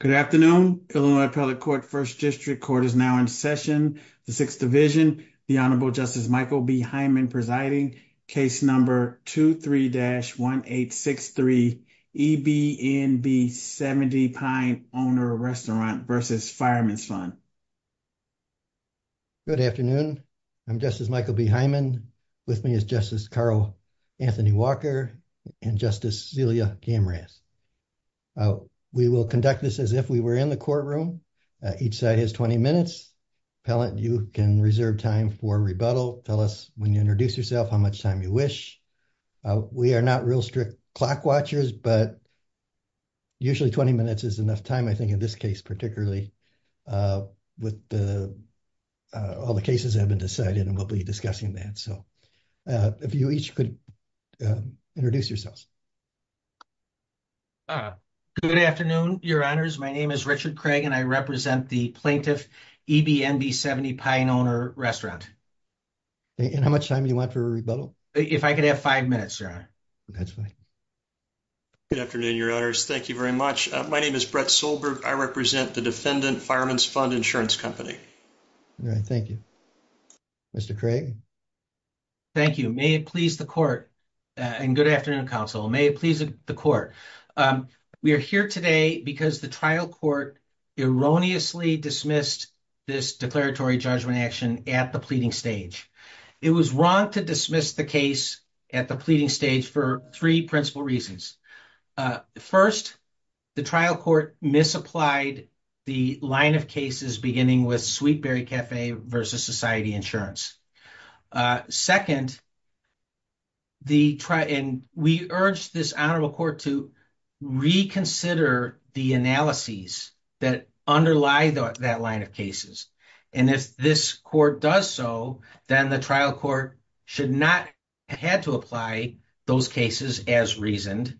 Good afternoon. Illinois Appellate Court First District Court is now in session. The Sixth Division, the Honorable Justice Michael B. Hyman presiding, case number 23-1863 EBNB 70 Pine Owner Restaurant v. Firemen's Fund. Good afternoon. I'm Justice Michael B. Hyman. With me is Justice Carl Anthony Walker and Justice Celia Gamras. We will conduct this as if we were in the courtroom. Each side has 20 minutes. Appellant, you can reserve time for rebuttal. Tell us when you introduce yourself, how much time you wish. We are not real strict clock watchers, but usually 20 minutes is enough time, I think, in this case particularly with all the cases that have been decided, and we'll be discussing that. So if you each could introduce yourselves. Good afternoon, Your Honors. My name is Richard Craig and I represent the plaintiff EBNB 70 Pine Owner Restaurant. And how much time do you want for a rebuttal? If I could have five minutes, Your Honor. That's fine. Good afternoon, Your Honors. Thank you very much. My name is Brett Solberg. I represent the defendant Firemen's Fund Insurance Company. All right, thank you. Mr. Craig? Thank you. May it please the court, and good afternoon, counsel. May it please the court. We are here today because the trial court erroneously dismissed this declaratory judgment action at the pleading stage. It was wrong to dismiss the case at the pleading stage for three principal reasons. First, the trial court misapplied the line of cases beginning with Sweetberry Cafe versus Society Insurance. Second, we urge this honorable court to reconsider the analyses that underlie that line of cases. And if this court does so, then the trial court should not have to apply those cases as reasoned.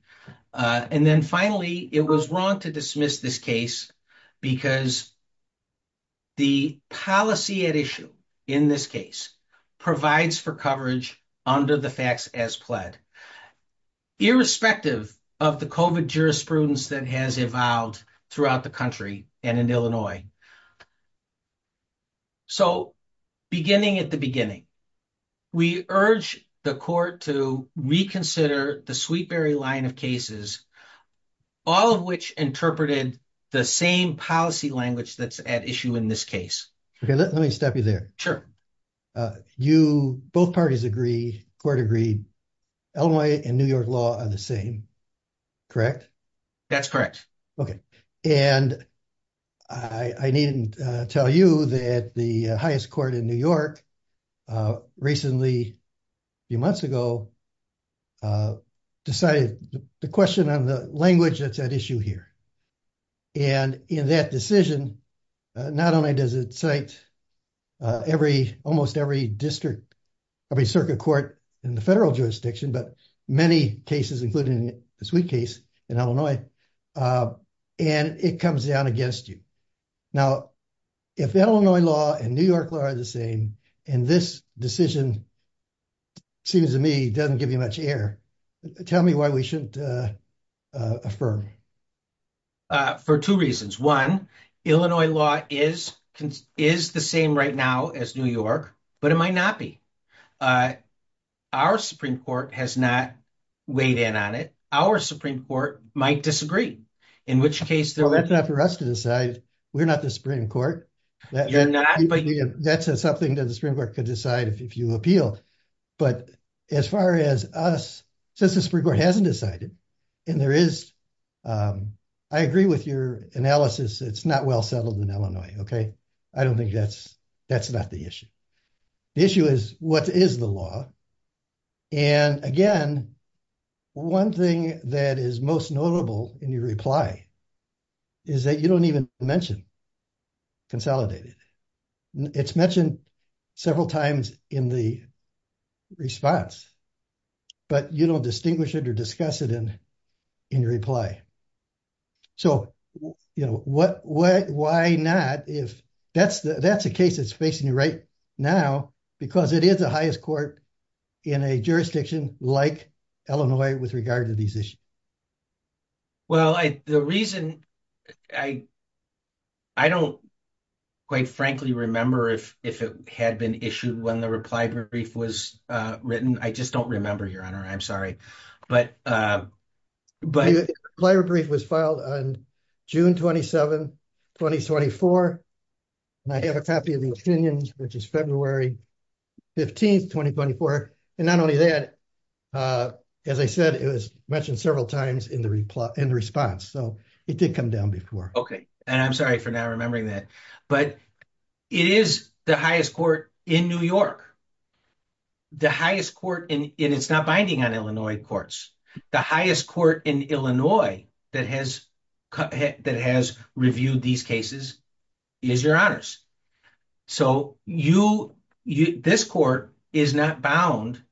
And then finally, it was wrong to dismiss this because the policy at issue in this case provides for coverage under the facts as pled, irrespective of the COVID jurisprudence that has evolved throughout the country and in Illinois. So, beginning at the beginning, we urge the court to reconsider the Sweetberry line of cases, all of which interpreted the same policy language that's at issue in this case. Okay, let me stop you there. Sure. You, both parties agree, court agreed, Illinois and New York law are the same, correct? That's correct. Okay. And I needn't tell you that the highest court in New York recently, a few months ago, decided the question on the language that's at issue here. And in that decision, not only does it cite every, almost every district, every circuit court in the federal jurisdiction, but many cases, including the Sweet case in Illinois, and it comes down Now, if Illinois law and New York law are the same, and this decision seems to me doesn't give you much air, tell me why we shouldn't affirm. For two reasons. One, Illinois law is the same right now as New York, but it might not be. Our Supreme Court has not weighed in on it. Our Supreme Court might disagree, in which case, that's not for us to decide. We're not the Supreme Court. That's something that the Supreme Court could decide if you appeal. But as far as us, since the Supreme Court hasn't decided, and there is, I agree with your analysis, it's not well settled in Illinois. Okay. I don't think that's, that's not the issue. The issue is, what is the law? And again, one thing that is most notable in your reply is that you don't even mention consolidated. It's mentioned several times in the response, but you don't distinguish it or discuss it in your reply. So, you know, what, why not if that's the, that's the case that's facing you right now, because it is the highest court in a jurisdiction like Illinois with regard to these issues? Well, I, the reason I, I don't quite frankly remember if, if it had been issued when the reply brief was written. I just don't remember, Your Honor. I'm sorry. But, but the reply brief was filed on June 27th, 2024. And I have a copy of the opinion, which is February 15th, 2024. And not only that, as I said, it was mentioned several times in the reply, in response. So it did come down before. Okay. And I'm sorry for not remembering that, but it is the highest court in New York, the highest court in, and it's not binding on Illinois courts, the highest court in Illinois that has, that has reviewed these cases is Your Honors. So you, you, this court is not bound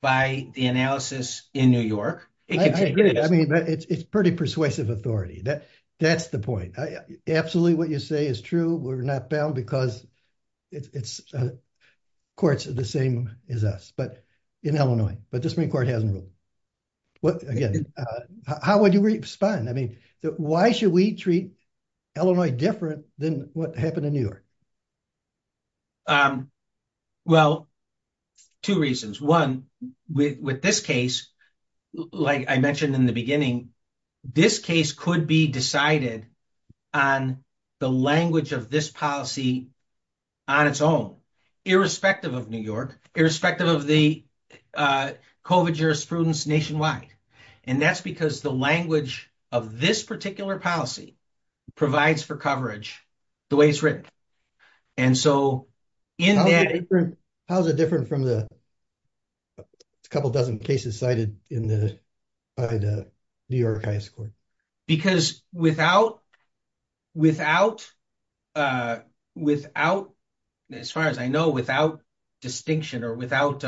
by the analysis in New York. I mean, it's pretty persuasive authority. That, that's the point. Absolutely. What you say is true. We're not bound because it's, courts are the same as us, but in Illinois, but the Supreme Court hasn't ruled. What again, how would you respond? I mean, why should we treat Illinois different than what happened in New York? Well, two reasons. One, with this case, like I mentioned in the beginning, this case could be decided on the language of this policy on its own, irrespective of New York, irrespective of the COVID jurisprudence nationwide. And that's because the language of this particular policy provides for coverage the way it's written. And so in that... How's it different from the couple of dozen cases cited in the New York highest court? Because without, as far as I know, without distinction or without,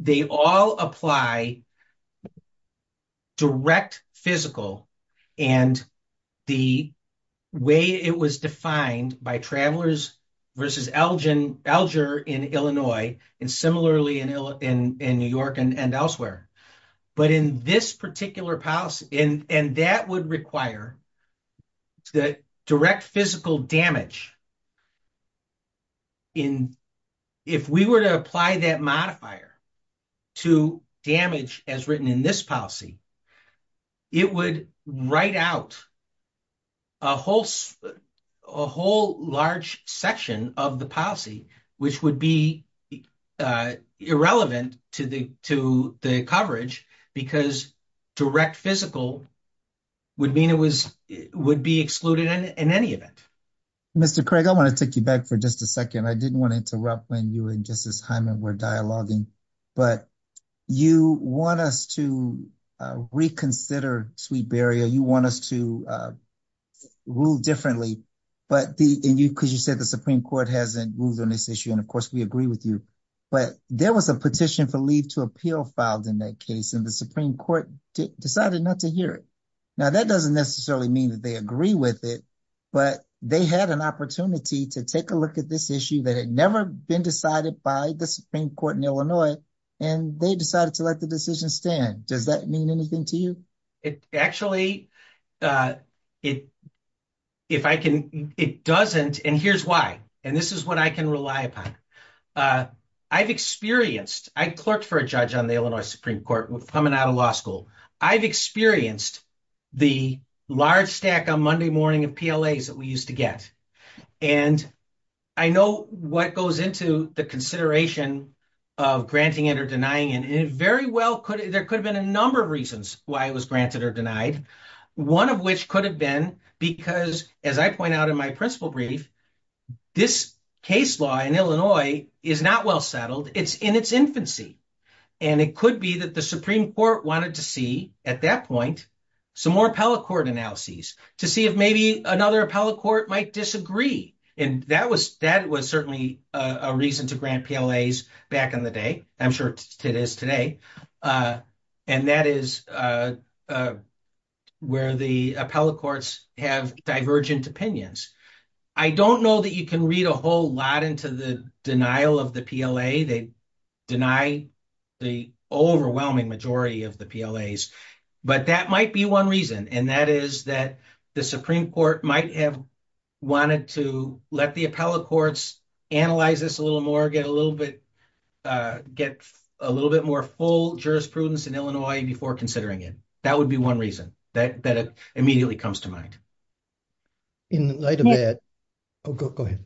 they all apply to the direct physical and the way it was defined by Travelers versus Alger in Illinois, and similarly in New York and elsewhere. But in this particular policy, and that would require the direct physical damage. If we were to apply that modifier to damage as written in this policy, it would write out a whole large section of the policy, which would be irrelevant to the coverage, because direct physical would be excluded in any event. Mr. Craig, I want to take you back for just a second. I didn't want to interrupt when you and Justice Hyman were dialoguing, but you want us to reconsider Sweet Barrier. You want us to rule differently, because you said the Supreme Court hasn't moved on this issue. And of course, we agree with you, but there was a petition for leave to appeal filed in that case, and the Supreme Court decided not to hear it. Now, that doesn't necessarily mean that they agree with it, but they had an opportunity to take a look at this issue that had never been decided by the Supreme Court in Illinois, and they decided to let the decision stand. Does that mean anything to you? Actually, it doesn't, and here's why, and this is what I can rely upon. I've experienced, I clerked for a judge on the Illinois Supreme Court coming out of law school. I've experienced the large stack on Monday morning of PLAs that we used to get. And I know what goes into the consideration of granting it or denying it, and it very well could, there could have been a number of reasons why it was granted or denied, one of which could have been because, as I point out in my principal brief, this case law in Illinois is not well settled, it's in its infancy. And it could be that the Supreme Court wanted to see, at that point, some more appellate court analyses to see if maybe another appellate court might disagree. And that was certainly a reason to grant PLAs back in the day. I'm sure it is today. And that is where the appellate courts have divergent opinions. I don't know that you can read a whole lot into the denial of the PLA. They deny the overwhelming majority of the PLAs. But that might be one reason, and that is that the Supreme Court might have wanted to let the appellate courts analyze this a little more, get a little bit a little bit more full jurisprudence in Illinois before considering it. That would be one reason that immediately comes to mind. In light of that, oh, go ahead.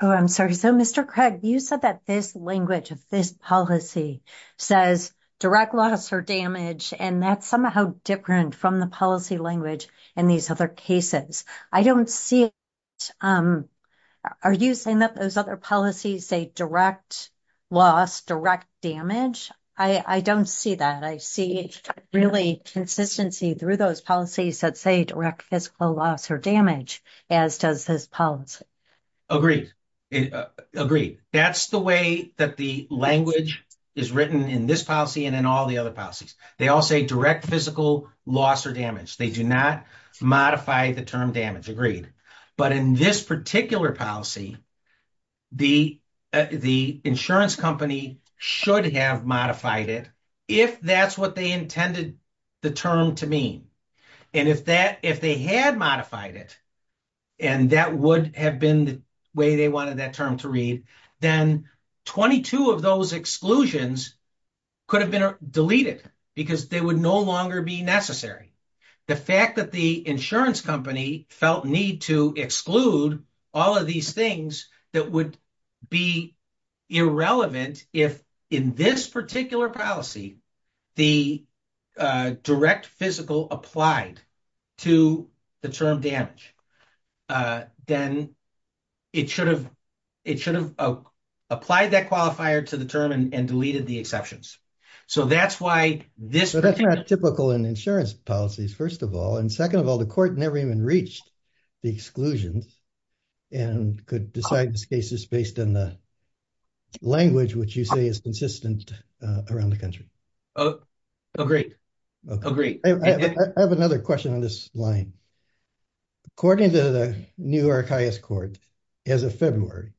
Oh, I'm sorry. So, Mr. Craig, you said that this language of this policy says direct loss or damage, and that's somehow different from the policy language in these other cases. I don't see it. Are you saying that those other policies say direct loss, direct damage? I don't see that. I see really consistency through those policies that say direct physical loss or damage, as does this policy. Agreed. Agreed. That's the way that the language is written in this policy and in all the other policies. They all say direct physical loss or damage. They do not modify the term damage. Agreed. But in this particular policy, the insurance company should have modified it if that's what they intended the term to mean. And if they had modified it, and that would have been the that term to read, then 22 of those exclusions could have been deleted because they would no longer be necessary. The fact that the insurance company felt need to exclude all of these things that would be irrelevant if in this particular policy, the direct physical applied to the term damage, then it should have applied that qualifier to the term and deleted the exceptions. So that's not typical in insurance policies, first of all. And second of all, the court never even reached the exclusions and could decide this case is based on the language, which you say is consistent around the country. Agreed. Agreed. I have another question on this line. According to the New York Highest Court, as of February,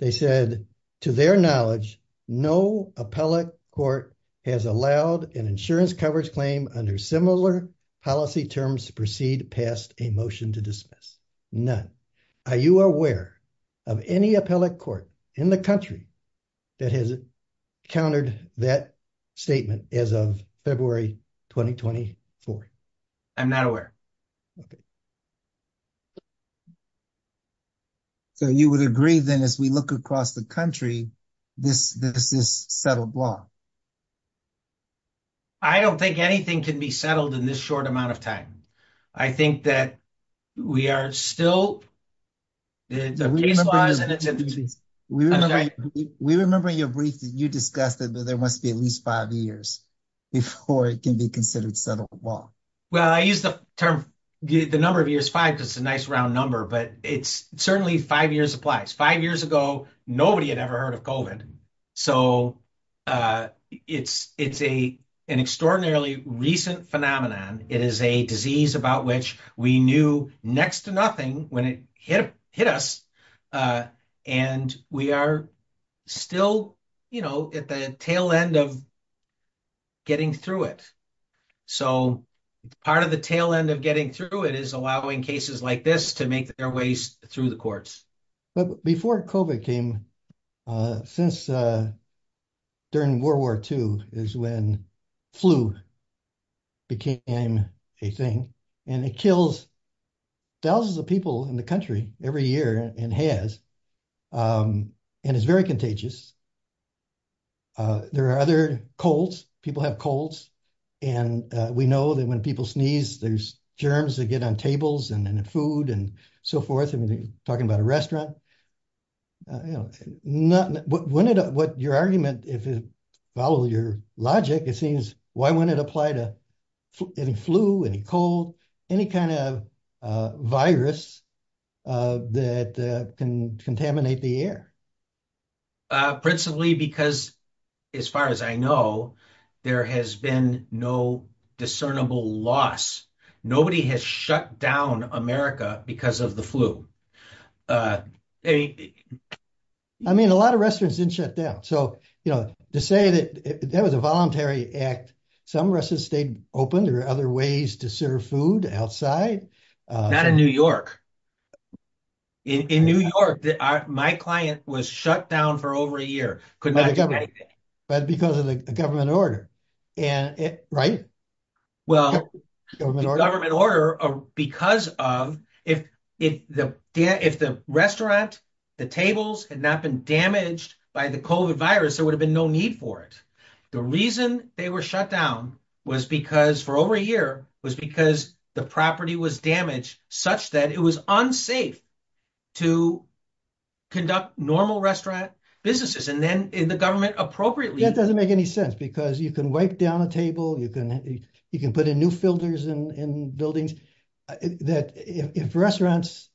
they said, to their knowledge, no appellate court has allowed an insurance coverage claim under similar policy terms to proceed past a motion to dismiss. None. Are you aware of any appellate court in the country that has countered that statement as of February 2024? I'm not aware. So you would agree, then, as we look across the country, this is settled law? I don't think anything can be settled in this short amount of time. I think that we are still in case laws. We remember your brief that you discussed that there must be at least five years before it can be considered settled law. Well, I use the term the number of years, five, because it's a nice round number, but it's certainly five years applies. Five years ago, nobody had ever heard of COVID. So it's an extraordinarily recent phenomenon. It is a disease about which we knew next to nothing when it hit us. And we are still, you know, at the tail end of getting through it. So part of the tail end of getting through it is allowing cases like this to make their way through the courts. But before COVID came, since during World War II is when flu became a thing, and it kills thousands of people in the country every year and has. And it's very contagious. There are other colds, people have colds. And we know that when people sneeze, there's germs that get on tables and food and so forth. I mean, talking about a restaurant, you know, not what your argument, if it follows your logic, it seems, why wouldn't it apply to any flu, any cold, any kind of virus that can contaminate the air? Principally, because as far as I know, there has been no discernible loss. Nobody has shut down America because of the flu. I mean, a lot of restaurants didn't shut down. So, you know, to say that that was a voluntary act, some restaurants stayed open, there are other ways to serve food outside. Not in New York. In New York, my client was shut down for over a year, could not do anything. But because of the government order, right? Well, government order because of if the restaurant, the tables had not been damaged by the COVID virus, there would have been no need for it. The reason they were shut down was because for over a year was because the property was damaged, such that it was unsafe to conduct normal restaurant businesses. And then in the government appropriately, it doesn't make any sense, because you can wipe down a table, you can put in new filters in buildings, that if restaurants,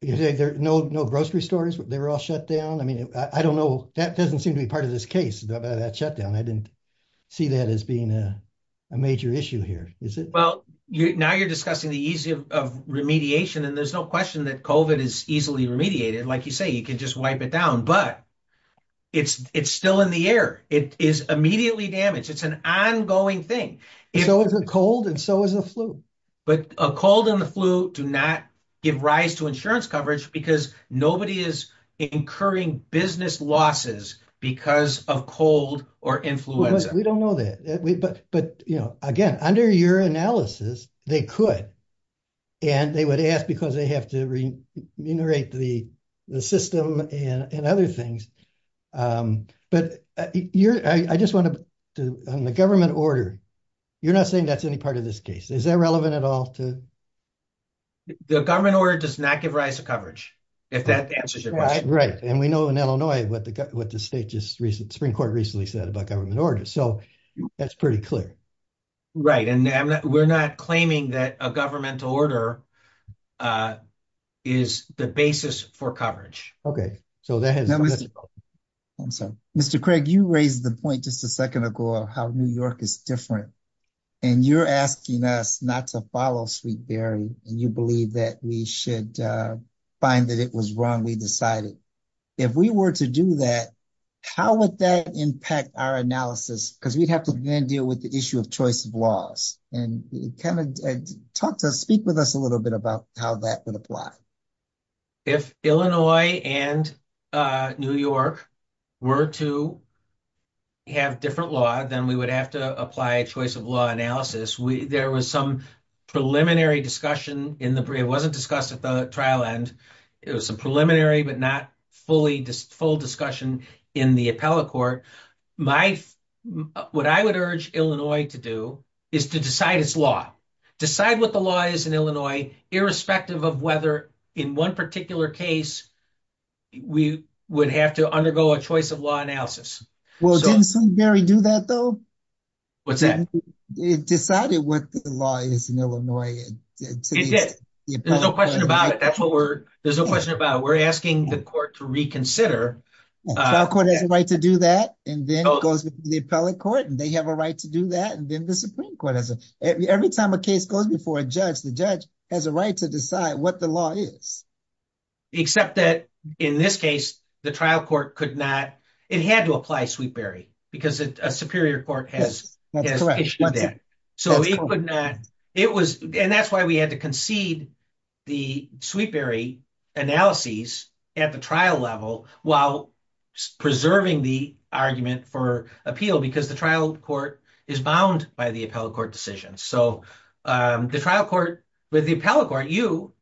there are no grocery stores, they're all shut down. I mean, I don't know, that doesn't seem to be part of this case, that shutdown. I didn't see that as being a major issue here. Is it? Well, now you're discussing the ease of remediation. And there's no question that COVID is easily remediated. Like you say, you can just wipe it down. But it's still in the air, it is immediately damaged. It's an ongoing thing. So is the cold and so is the flu. But a cold and the flu do not give rise to insurance coverage, because nobody is incurring business losses because of cold or influenza. We don't know that. But again, under your analysis, they could. And they would ask because they have to remunerate the system and other things. But I just want to, on the government order, you're not saying that's any part of this case. Is that relevant at all to? The government order does not give rise to coverage, if that answers your question. Right. And we know in Illinois, what the state just recently, Supreme Court recently said about government order. So that's pretty clear. Right. And we're not claiming that a governmental order is the basis for coverage. Okay. So that has... Mr. Craig, you raised the point just a second ago of how New York is different. And you're asking us not to follow Sweetberry. And you believe that we should find that it was wrong, we decided. If we were to do that, how would that impact our analysis? Because we'd have to then deal with the issue of choice of laws. And talk to us, speak with us a little bit about how that would apply. If Illinois and New York were to have different law, then we would have to apply a choice of law analysis. There was some preliminary discussion in the... It wasn't discussed at the trial end. It was a preliminary, but not full discussion in the appellate court. My... What I would urge Illinois to do is to decide its law. Decide what the law is in Illinois, irrespective of whether in one particular case, we would have to undergo a choice of law analysis. Well, didn't Sweetberry do that though? What's that? It decided what the law is in Illinois. It did. There's no question about it. That's what we're... There's no question about it. We're asking the court to reconsider. The trial court has a right to do that. And then it goes to the appellate court and they have a right to do that. And then the Supreme Court has a... Every time a case goes before a judge, the judge has a right to decide what the law is. Except that in this case, the trial court could not... It had to apply Sweetberry because a superior court has issued that. So it could not... It was... And that's why we had to concede the Sweetberry analyses at the trial level while preserving the argument for appeal because the trial court is bound by the appellate court decision. So the trial court with the appellate court, you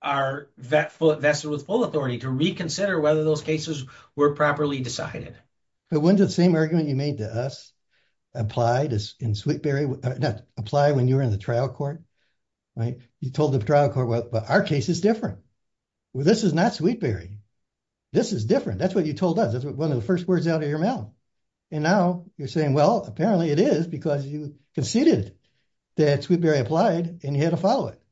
are vested with full authority to reconsider whether those cases were properly decided. But wouldn't the same argument you made to us apply in Sweetberry... Not apply when you were the trial court. You told the trial court, well, our case is different. Well, this is not Sweetberry. This is different. That's what you told us. That's one of the first words out of your mouth. And now you're saying, well, apparently it is because you conceded that Sweetberry applied and you had to follow it.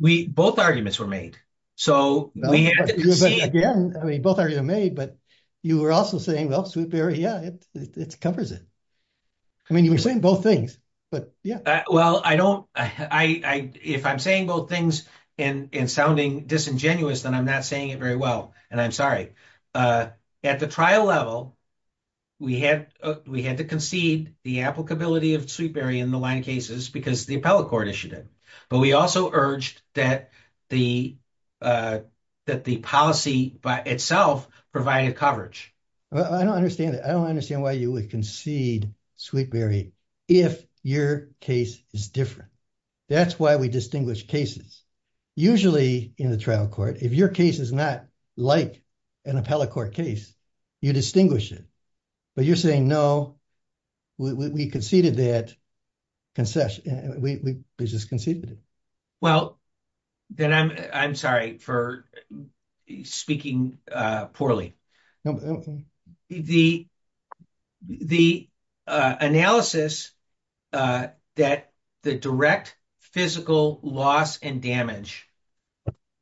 We... Both arguments were made. So we had to concede. Again, I mean, both arguments were made, but you were also saying, well, Sweetberry, yeah, it covers it. I mean, you were saying both things, but yeah. Well, I don't... If I'm saying both things and sounding disingenuous, then I'm not saying it very well. And I'm sorry. At the trial level, we had to concede the applicability of Sweetberry in the line of cases because the appellate court issued it. But we also urged that the policy by itself provided coverage. I don't understand that. I don't understand why you would concede Sweetberry if your case is different. That's why we distinguish cases. Usually in the trial court, if your case is not like an appellate court case, you distinguish it. But you're saying, no, we conceded that concession. We just conceded it. Well, then I'm sorry for speaking poorly. The analysis that the direct physical loss and damage,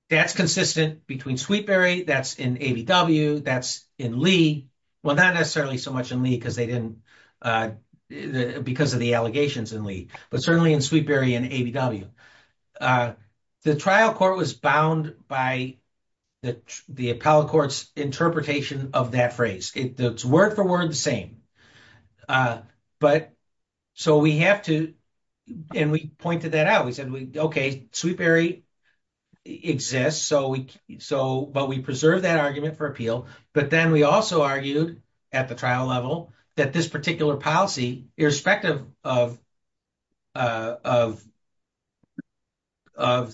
that's consistent between Sweetberry, that's in ABW, that's in Lee. Well, not necessarily so much in Lee because of the allegations in Lee, but certainly in Sweetberry and ABW. The trial court was bound by the appellate court's interpretation of that phrase. It's word for word the same. And we pointed that out. We said, okay, Sweetberry exists, but we preserve that argument for appeal. But then we also argued at the trial level that this particular policy, irrespective of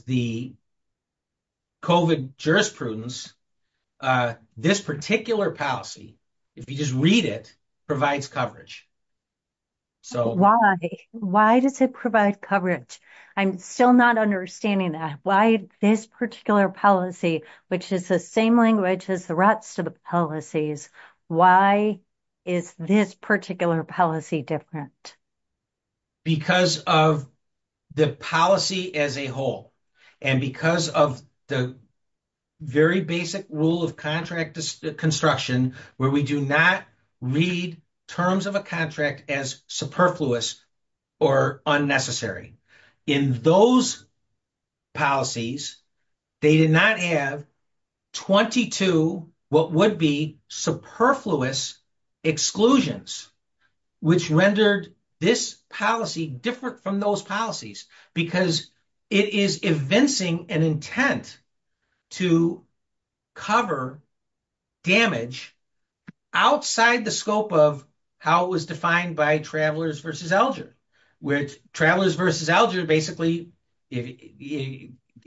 the COVID jurisprudence, this particular policy, if you just read it, provides coverage. Why does it provide coverage? I'm still not understanding that. Why this particular policy, which is the same language as the rest of the policies, why is this particular policy different? Because of the policy as a whole and because of the very basic rule of contract construction, where we do not read terms of a contract as superfluous or unnecessary. In those policies, they did not have 22, what would be superfluous exclusions, which rendered this policy different from those policies because it is evincing an intent to cover damage outside the scope of how it was defined by Travelers v. Alger, where Travelers v. Alger basically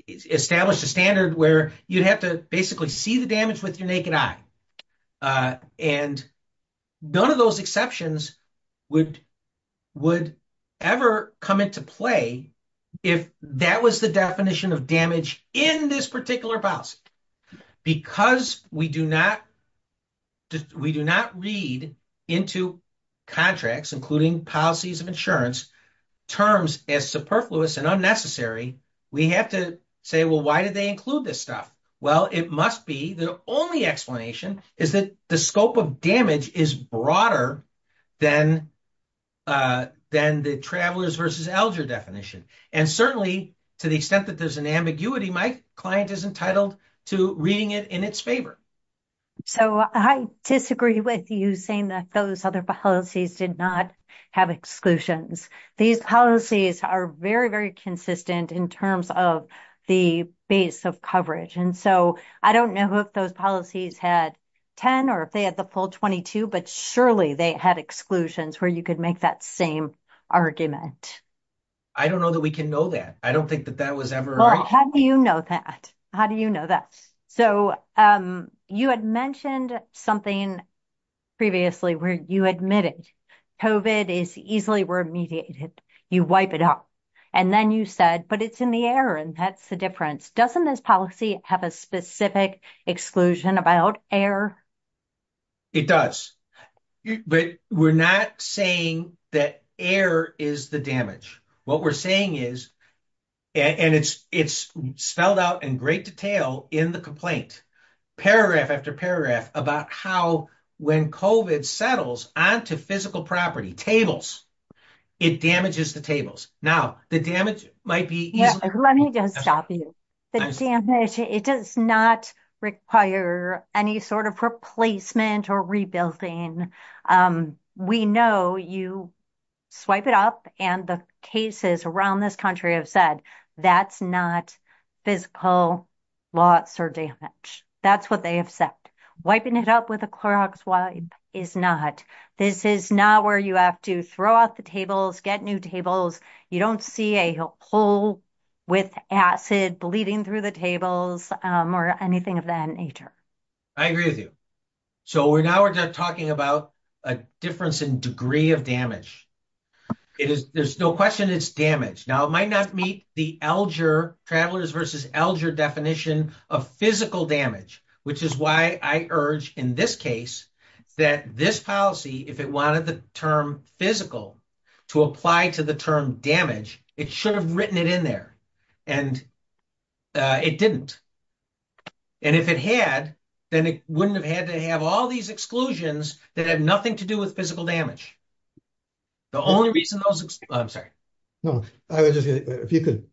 established a standard where you'd have to basically see the damage with your naked eye. And none of those exceptions would ever come into play if that was the definition of damage in this particular policy. Because we do not read into contracts, including policies of insurance, terms as superfluous and unnecessary, we have to say, well, why did they include this stuff? Well, it must be the only explanation is that the scope of damage is broader than the Travelers v. Alger definition. And certainly to the extent that there's an ambiguity, my client is entitled to reading it in its favor. So I disagree with you saying that those other policies did not have exclusions. These policies are very, very consistent in terms of the base of coverage. And so I don't know if those policies had 10 or if they had the full 22, but surely they had exclusions where you could make that same argument. I don't know that we can know that. I don't think that that was ever. Well, how do you know that? How do you know that? So you had mentioned something previously where you admitted COVID is easily remediated. You wipe it up. And then you said, but it's in the air. And that's the difference. Doesn't this policy have a specific exclusion about air? It does. But we're not saying that air is the damage. What we're saying is, and it's spelled out in great detail in the complaint, paragraph after paragraph about how when COVID settles onto physical property tables, it damages the tables. Now the damage might be. Let me just stop you. The damage, it does not require any sort of cases around this country have said, that's not physical loss or damage. That's what they have said. Wiping it up with a Clorox wipe is not. This is not where you have to throw out the tables, get new tables. You don't see a hole with acid bleeding through the tables or anything of that nature. I agree with you. So now we're talking about a difference in degree of damage. It is, there's no question it's damage. Now it might not meet the Elger travelers versus Elger definition of physical damage, which is why I urge in this case, that this policy, if it wanted the term physical to apply to the term damage, it should have written it in there. And it didn't. And if it had, then it wouldn't have had to have all these exclusions that have to do with physical damage. The only reason those, I'm sorry. No, I was just going to, if you could,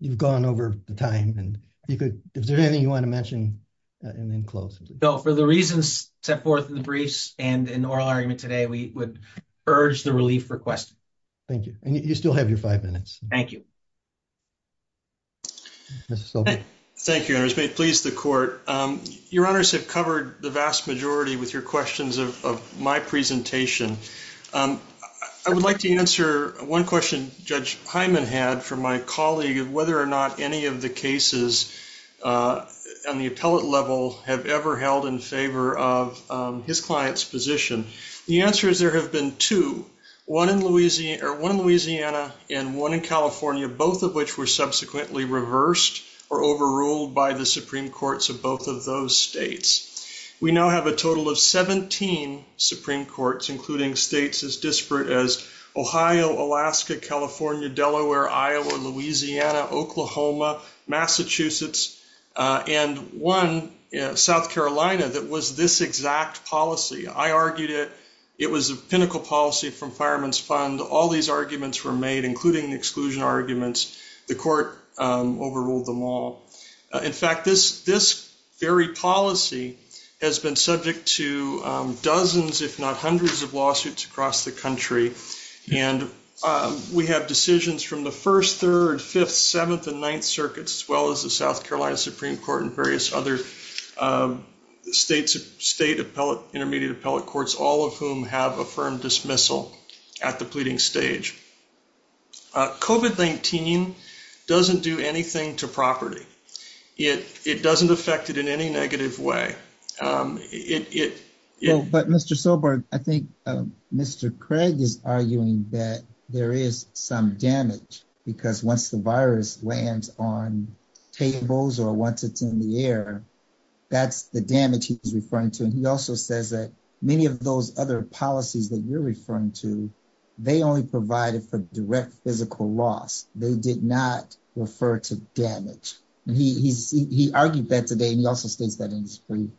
you've gone over the time and you could, is there anything you want to mention and then close? No, for the reasons set forth in the briefs and in oral argument today, we would urge the relief request. Thank you. And you still have your five minutes. Thank you. Thank you. I was made pleased to court. Your honors have covered the vast majority with your questions of my presentation. I would like to answer one question judge Hyman had for my colleague of whether or not any of the cases on the appellate level have ever held in favor of his client's position. The answer is there have been two, one in Louisiana and one in California, both of which were subsequently reversed or overruled by the Supreme courts of both of those states. We now have a total of 17 Supreme courts, including states as disparate as Ohio, Alaska, California, Delaware, Iowa, Louisiana, Oklahoma, Massachusetts, and one South Carolina that was this exact policy. I argued it. It was a pinnacle policy from fireman's fund. All these arguments were made, including the exclusion arguments. The court overruled them all. In fact, this, very policy has been subject to dozens, if not hundreds of lawsuits across the country. And we have decisions from the first, third, fifth, seventh, and ninth circuits, as well as the South Carolina Supreme court and various other states, state appellate, intermediate appellate courts, all of whom have affirmed dismissal at the pleading stage. COVID-19 doesn't do anything to property. It doesn't affect it in any negative way. But Mr. Soberg, I think Mr. Craig is arguing that there is some damage because once the virus lands on tables or once it's in the air, that's the damage he's referring to. And he also says that many of those other policies that you're referring to, they only provided for direct physical loss. They did not refer to damage. He argued that today, and he also states that in his brief.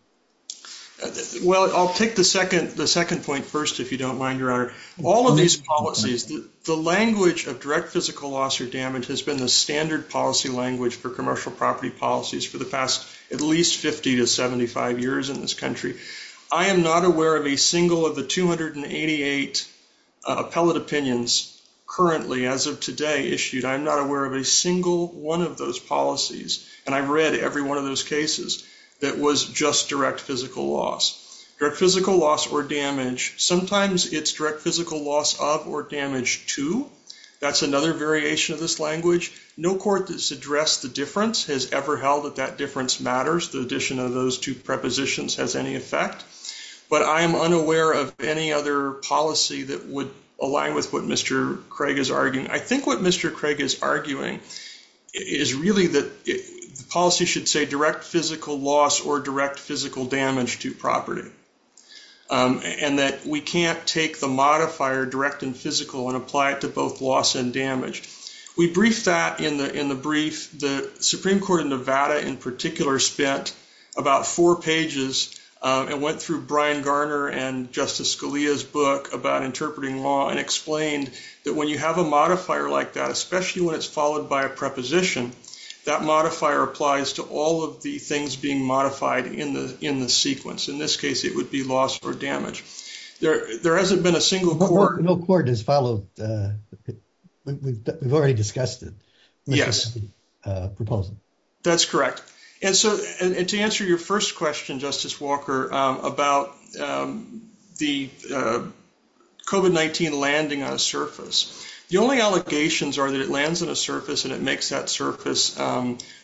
Well, I'll take the second point first, if you don't mind, your honor. All of these policies, the language of direct physical loss or damage has been the standard policy language for commercial property policies for the past at least 50 to 75 years in this country. I am not aware of a single of the 288 appellate opinions currently as of today issued. I'm not aware of a single one of those policies. And I've read every one of those cases that was just direct physical loss. Direct physical loss or damage, sometimes it's direct physical loss of or damage to. That's another variation of this language. No court that's addressed the difference has ever held that that difference matters. The addition of those two prepositions has any effect. But I am unaware of any other policy that would align with what Mr. Craig is arguing. I think what Mr. Craig is arguing is really that the policy should say direct physical loss or direct physical damage to property. And that we can't take the modifier direct and physical and apply it to both loss and damage. We briefed that in the brief, the Supreme Court in Nevada in particular spent about four pages and went through Brian Garner and Justice Scalia's book about interpreting law and explained that when you have a modifier like that, especially when it's followed by a preposition, that modifier applies to all of the things being modified in the sequence. In this case, it would be loss or damage. There hasn't been a single court. No court has followed. But we've already discussed it. Yes. That's correct. And so to answer your first question, Justice Walker, about the COVID-19 landing on a surface, the only allegations are that it lands on a surface and it makes that surface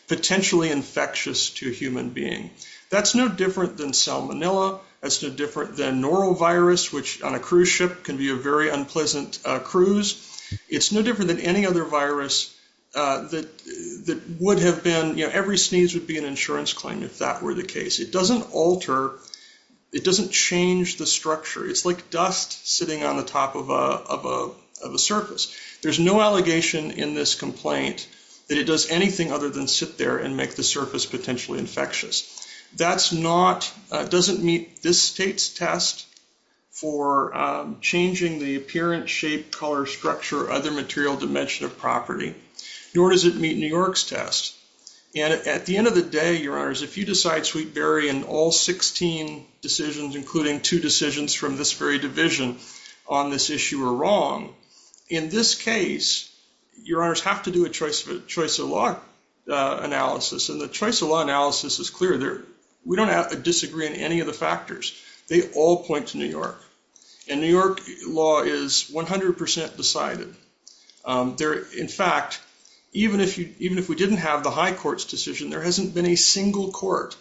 potentially infectious to a human being. That's no different than salmonella. That's no different than norovirus, which on a cruise ship can be a very unpleasant cruise. It's no different than any other virus that would have been, you know, every sneeze would be an insurance claim if that were the case. It doesn't alter, it doesn't change the structure. It's like dust sitting on the top of a surface. There's no allegation in this complaint that it does anything other than sit there and make the surface potentially infectious. That's not, doesn't meet this state's test for changing the appearance, shape, color, structure, other material dimension of property, nor does it meet New York's test. And at the end of the day, your honors, if you decide Sweetberry and all 16 decisions, including two decisions from this very division on this issue are wrong, in this case, your honors have to do a choice of a choice of law analysis. And the choice of law analysis is clear. We don't disagree on any of the factors. They all point to New York. And New York law is 100% decided. In fact, even if we didn't have the high court's decision, there hasn't been a single court,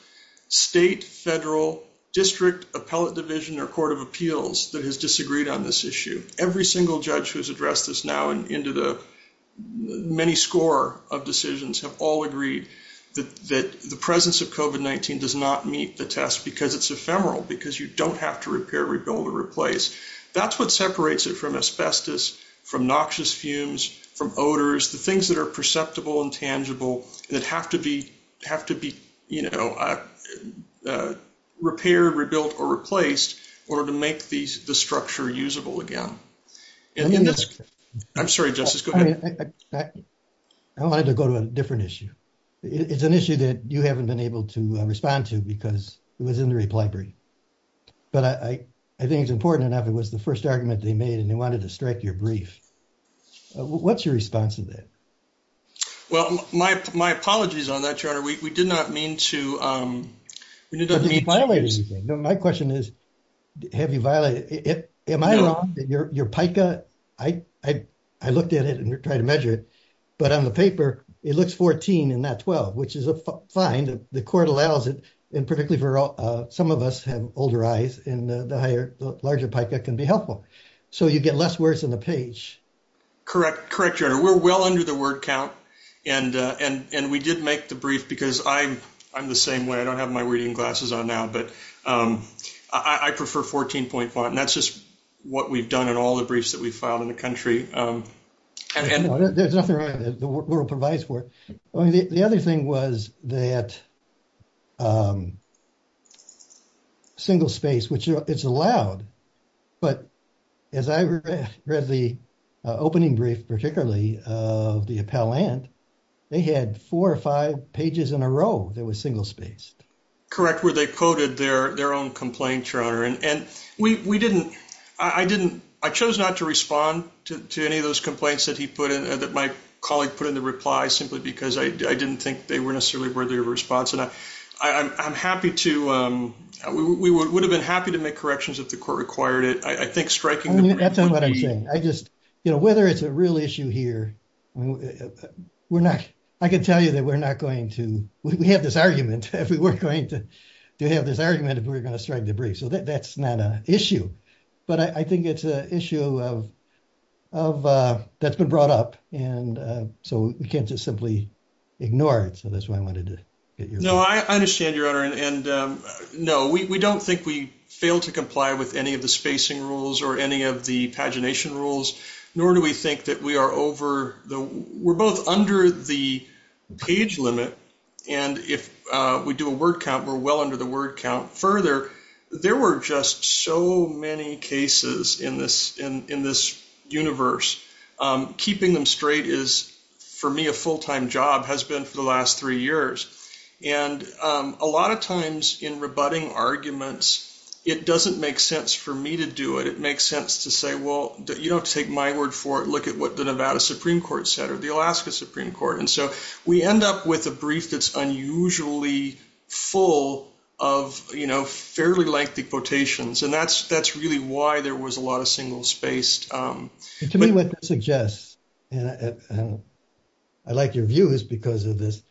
state, federal, district, appellate division, or court of appeals that has disagreed on this issue. Every single judge who has addressed this now and into the many score of decisions have all agreed that the presence of COVID-19 does not meet the test because it's ephemeral, because you don't have to repair, rebuild, or replace. That's what separates it from asbestos, from noxious fumes, from odors, the things that are perceptible and tangible that have to be, you know, repaired, rebuilt, or replaced in order to make the structure usable again. I'm sorry, Justice, go ahead. I wanted to go to a different issue. It's an issue that you haven't been able to respond to because it was in the reply brief. But I think it's important enough it was the first argument they made and they wanted to strike your brief. What's your response to that? Well, my apologies on that, your honor. We did not mean to... But did you violate anything? No, my question is, have you violated it? Am I wrong that your pica, I looked at it and tried to measure it, but on the paper, it looks 14 and not 12, which is a fine. The court allows it, and particularly for some of us have older eyes, and the higher, the larger pica can be helpful. So you get less words on the page. Correct, correct, your honor. We're well under the word count. And we did make the brief because I'm the same way. I don't have my reading glasses on now, but I prefer 14 point font. And that's just what we've done in all the briefs that we filed in the country. There's nothing wrong with it. The world provides for it. The other thing was that single space, which is allowed. But as I read the opening brief, particularly of the appellant, they had four or five pages in a row that was single spaced. Correct, where they quoted their own complaint, your honor. And I chose not to respond to any of those complaints that my colleague put in the reply simply because I didn't think they were necessarily worthy of response. And we would have been happy to make corrections if the court required it. I think striking the brief would be... That's not what I'm saying. Whether it's a real issue here, we're not... I can tell you that we're not going to... We have this argument. If we were going to have this argument, we're going to strike the brief. So that's not an issue. But I think it's an issue that's been brought up. And so we can't just simply ignore it. So that's why I wanted to get your... No, I understand your honor. And no, we don't think we fail to comply with any of the spacing rules or any of the pagination rules, nor do we think that we're both under the page limit. And if we do a word count, we're well under the word count. Further, there were just so many cases in this universe. Keeping them straight is, for me, a full-time job, has been for the last three years. And a lot of times in rebutting arguments, it doesn't make sense for me to do it. It makes sense to say, well, you don't take my word for it. Look at what the Nevada Supreme Court said, or the Alaska Supreme Court. And so we end up with a brief that's unusually full of fairly lengthy quotations. And that's really why there was a lot of singles spaced. To me, what that suggests, and I like your views because of this,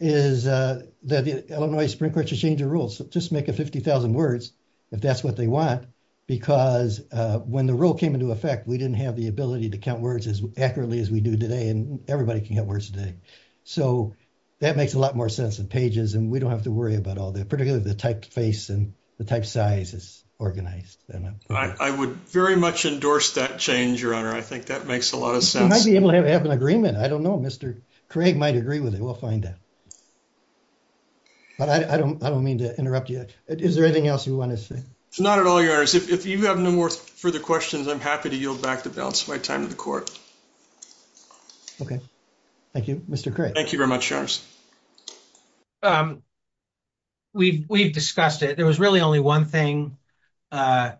is that the Illinois Supreme Court should change the rules. Just make it 50,000 words, if that's what they want, because when the rule came into effect, we didn't have the ability to count words as accurately as we do today, and everybody can get words today. So that makes a lot more sense than pages, and we don't have to worry about all that, particularly the typeface and the type size is organized. I would very much endorse that change, Your Honor. I think that makes a lot of sense. We might be able to have an agreement. I don't know. Mr. Craig might agree with it. We'll find out. But I don't mean to interrupt you. Is there anything else you want to say? Not at all, Your Honor. If you have no more further questions, I'm happy to yield back the balance of my time to the court. Okay. Thank you, Mr. Craig. Thank you very much, Your Honor. We've discussed it. There was really only one thing that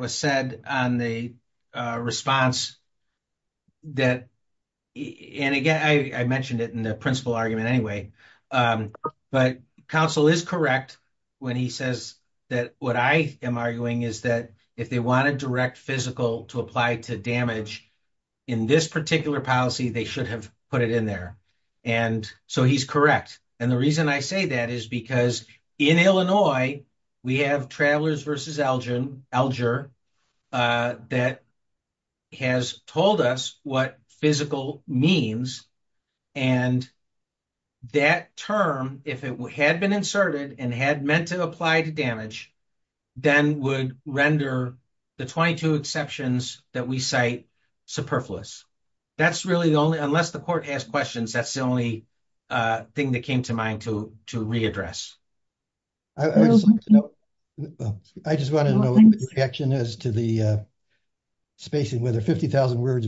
was said on the response that, and again, I mentioned it in the principal argument anyway, but counsel is correct when he says that what I am arguing is that if they want a direct physical to apply to damage in this particular policy, they should have put it in there. And so he's correct. And the reason I say that is because in Illinois, we have Travelers v. Alger that has told us what physical means. And that term, if it had been inserted and had meant to apply to damage, then would render the 22 exceptions that we cite superfluous. That's really the only, unless the court has questions, that's the only thing that came to mind to readdress. I just wanted to know what your reaction is to the spacing, whether 50,000 words,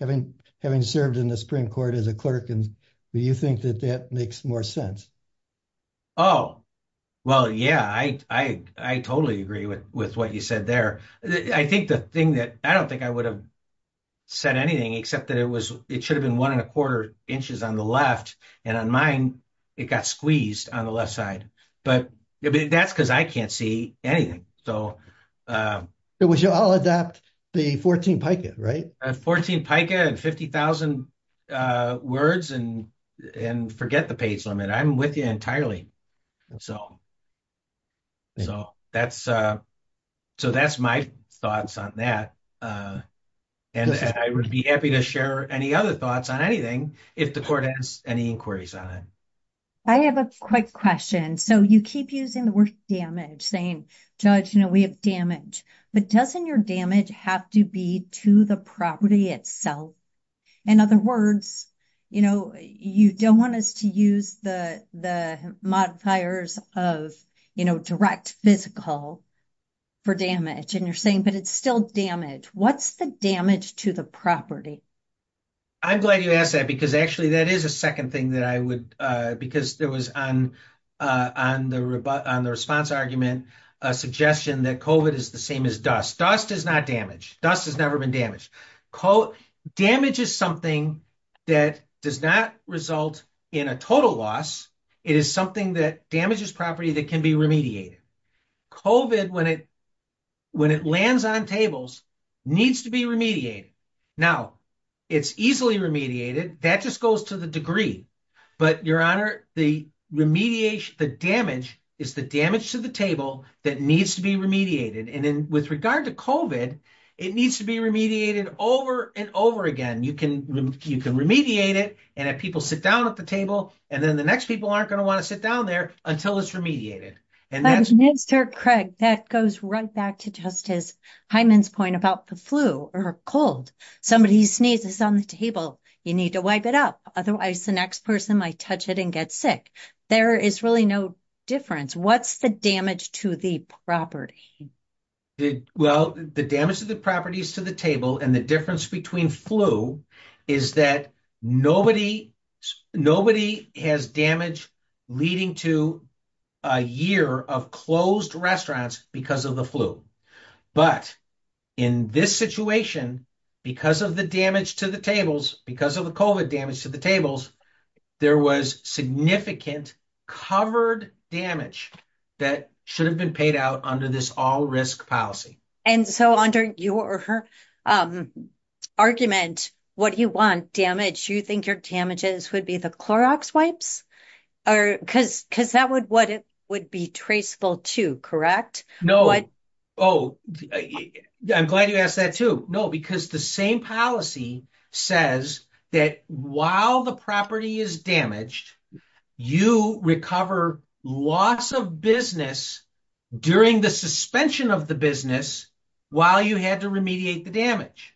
having served in the Supreme Court as a clerk. And do you think that that makes more sense? Oh, well, yeah, I totally agree with what you said there. I don't think I would have said anything except that it should have been one and a quarter inches on the left. And on mine, it got squeezed on the left side. But that's because I can't see anything. So I'll adopt the 14 pica, right? 14 pica and 50,000 words and forget the page limit. I'm with you entirely. So that's my thoughts on that. And I would be happy to share any other thoughts on anything if the court has any inquiries on it. I have a quick question. So you keep using the word damage saying, Judge, we have damage, but doesn't your damage have to be to the property itself? In other words, you don't want us to use the modifiers of direct physical for damage. And you're saying, but it's still damage. What's the damage to the property? I'm glad you asked that, because actually, that is a second thing that I would, because there was on the response argument, a suggestion that COVID is the same as dust. Dust is not damaged. Dust has never been damaged. Damage is something that does not result in a total loss. It is something that damages property that can be remediated. COVID, when it lands on tables, needs to be remediated. Now, it's easily remediated. That just goes to the degree. But Your Honor, the remediation, the damage is the damage to the table that needs to be remediated. And then with regard to COVID, it needs to be remediated over and over again. You can remediate it. And if people sit down at the table, and then the next people aren't going to want to sit down until it's remediated. Mr. Craig, that goes right back to Justice Hyman's point about the flu or cold. Somebody sneezes on the table, you need to wipe it up. Otherwise, the next person might touch it and get sick. There is really no difference. What's the damage to the property? Well, the damage to the property is to the table. And the difference between flu is that nobody has damage leading to a year of closed restaurants because of the flu. But in this situation, because of the damage to the tables, because of the COVID damage to the tables, there was significant covered damage that should have been paid out under this all risk policy. And so under your argument, what do you want damage? You think your damages would be the Clorox wipes? Or because that would be traceable too, correct? No. Oh, I'm glad you asked that too. No, because the same policy says that while the property is damaged, you recover loss of business during the suspension of the business while you had to remediate the damage.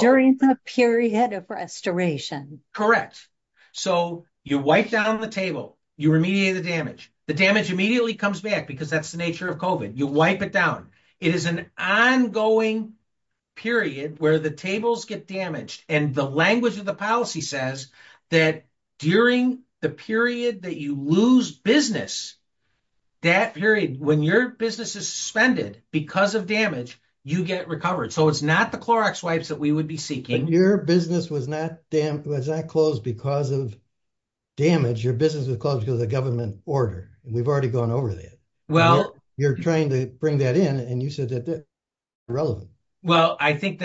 During the period of restoration. Correct. So you wipe down the table, you remediate the damage. The damage immediately comes back because that's the nature of COVID. You wipe it down. It is an ongoing period where the tables get damaged. And the language of the policy says that during the period that you lose because of damage, you get recovered. So it's not the Clorox wipes that we would be seeking. Your business was not closed because of damage. Your business was closed because of the government order. We've already gone over that. Well, you're trying to bring that in and you said that that's irrelevant. Well, I think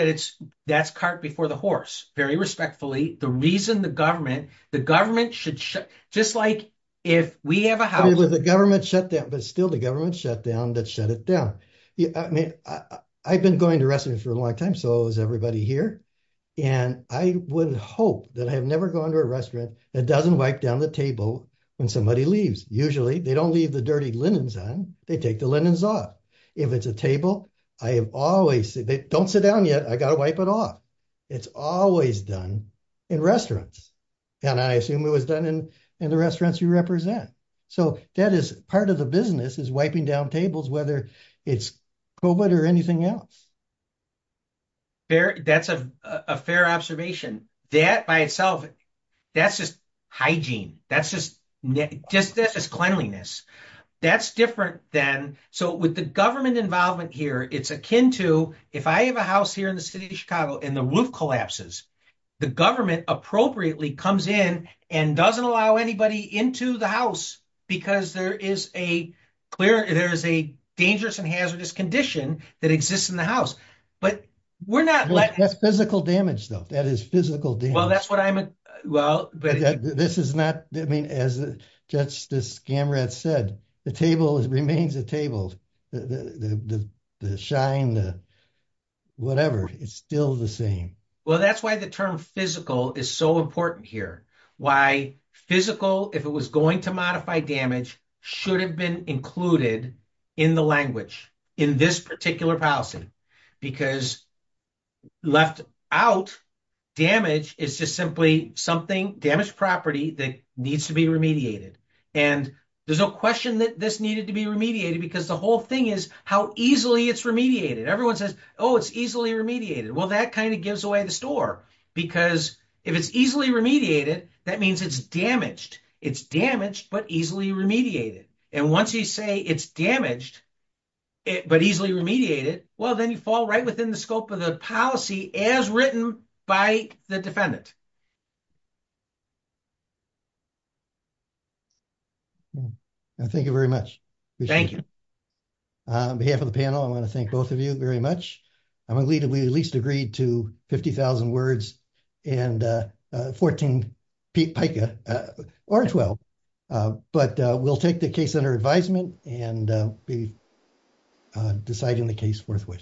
that's cart before the horse, very respectfully. The reason the government, the government should shut, just like if we have a house. But still the government shut down that shut it down. I mean, I've been going to restaurants for a long time. So is everybody here. And I would hope that I have never gone to a restaurant that doesn't wipe down the table when somebody leaves. Usually they don't leave the dirty linens on. They take the linens off. If it's a table, I have always said, don't sit down yet. I got to wipe it off. It's always done in restaurants. And I assume it was done in the restaurants you represent. So that is part of business is wiping down tables, whether it's COVID or anything else. Fair. That's a fair observation. That by itself, that's just hygiene. That's just that's just cleanliness. That's different than. So with the government involvement here, it's akin to if I have a house here in the city of Chicago and the roof collapses, the government appropriately comes in and doesn't allow anybody into the house because there is a clear, there is a dangerous and hazardous condition that exists in the house. But we're not letting. That's physical damage though. That is physical damage. Well, that's what I mean. Well, this is not, I mean, as Justice Gamrat said, the table remains a table. The shine, the whatever, it's still the same. Well, that's why the term physical is so important here. Why physical, if it was going to modify damage should have been included in the language in this particular policy, because left out damage is just simply something damaged property that needs to be remediated. And there's no question that this needed to be remediated because the whole thing is how easily it's remediated. Everyone says, oh, it's easily remediated. Well, that kind of gives away the store because if it's easily remediated, that means it's damaged. It's damaged, but easily remediated. And once you say it's damaged, but easily remediated, well, then you fall right within the scope of the policy as written by the defendant. Thank you very much. Thank you. On behalf of the panel, I want to thank both of you very much. I'm glad that we at least agreed to 50,000 words and 14 Pete Pica, or 12, but we'll take the case under advisement and be deciding the case worthwhile.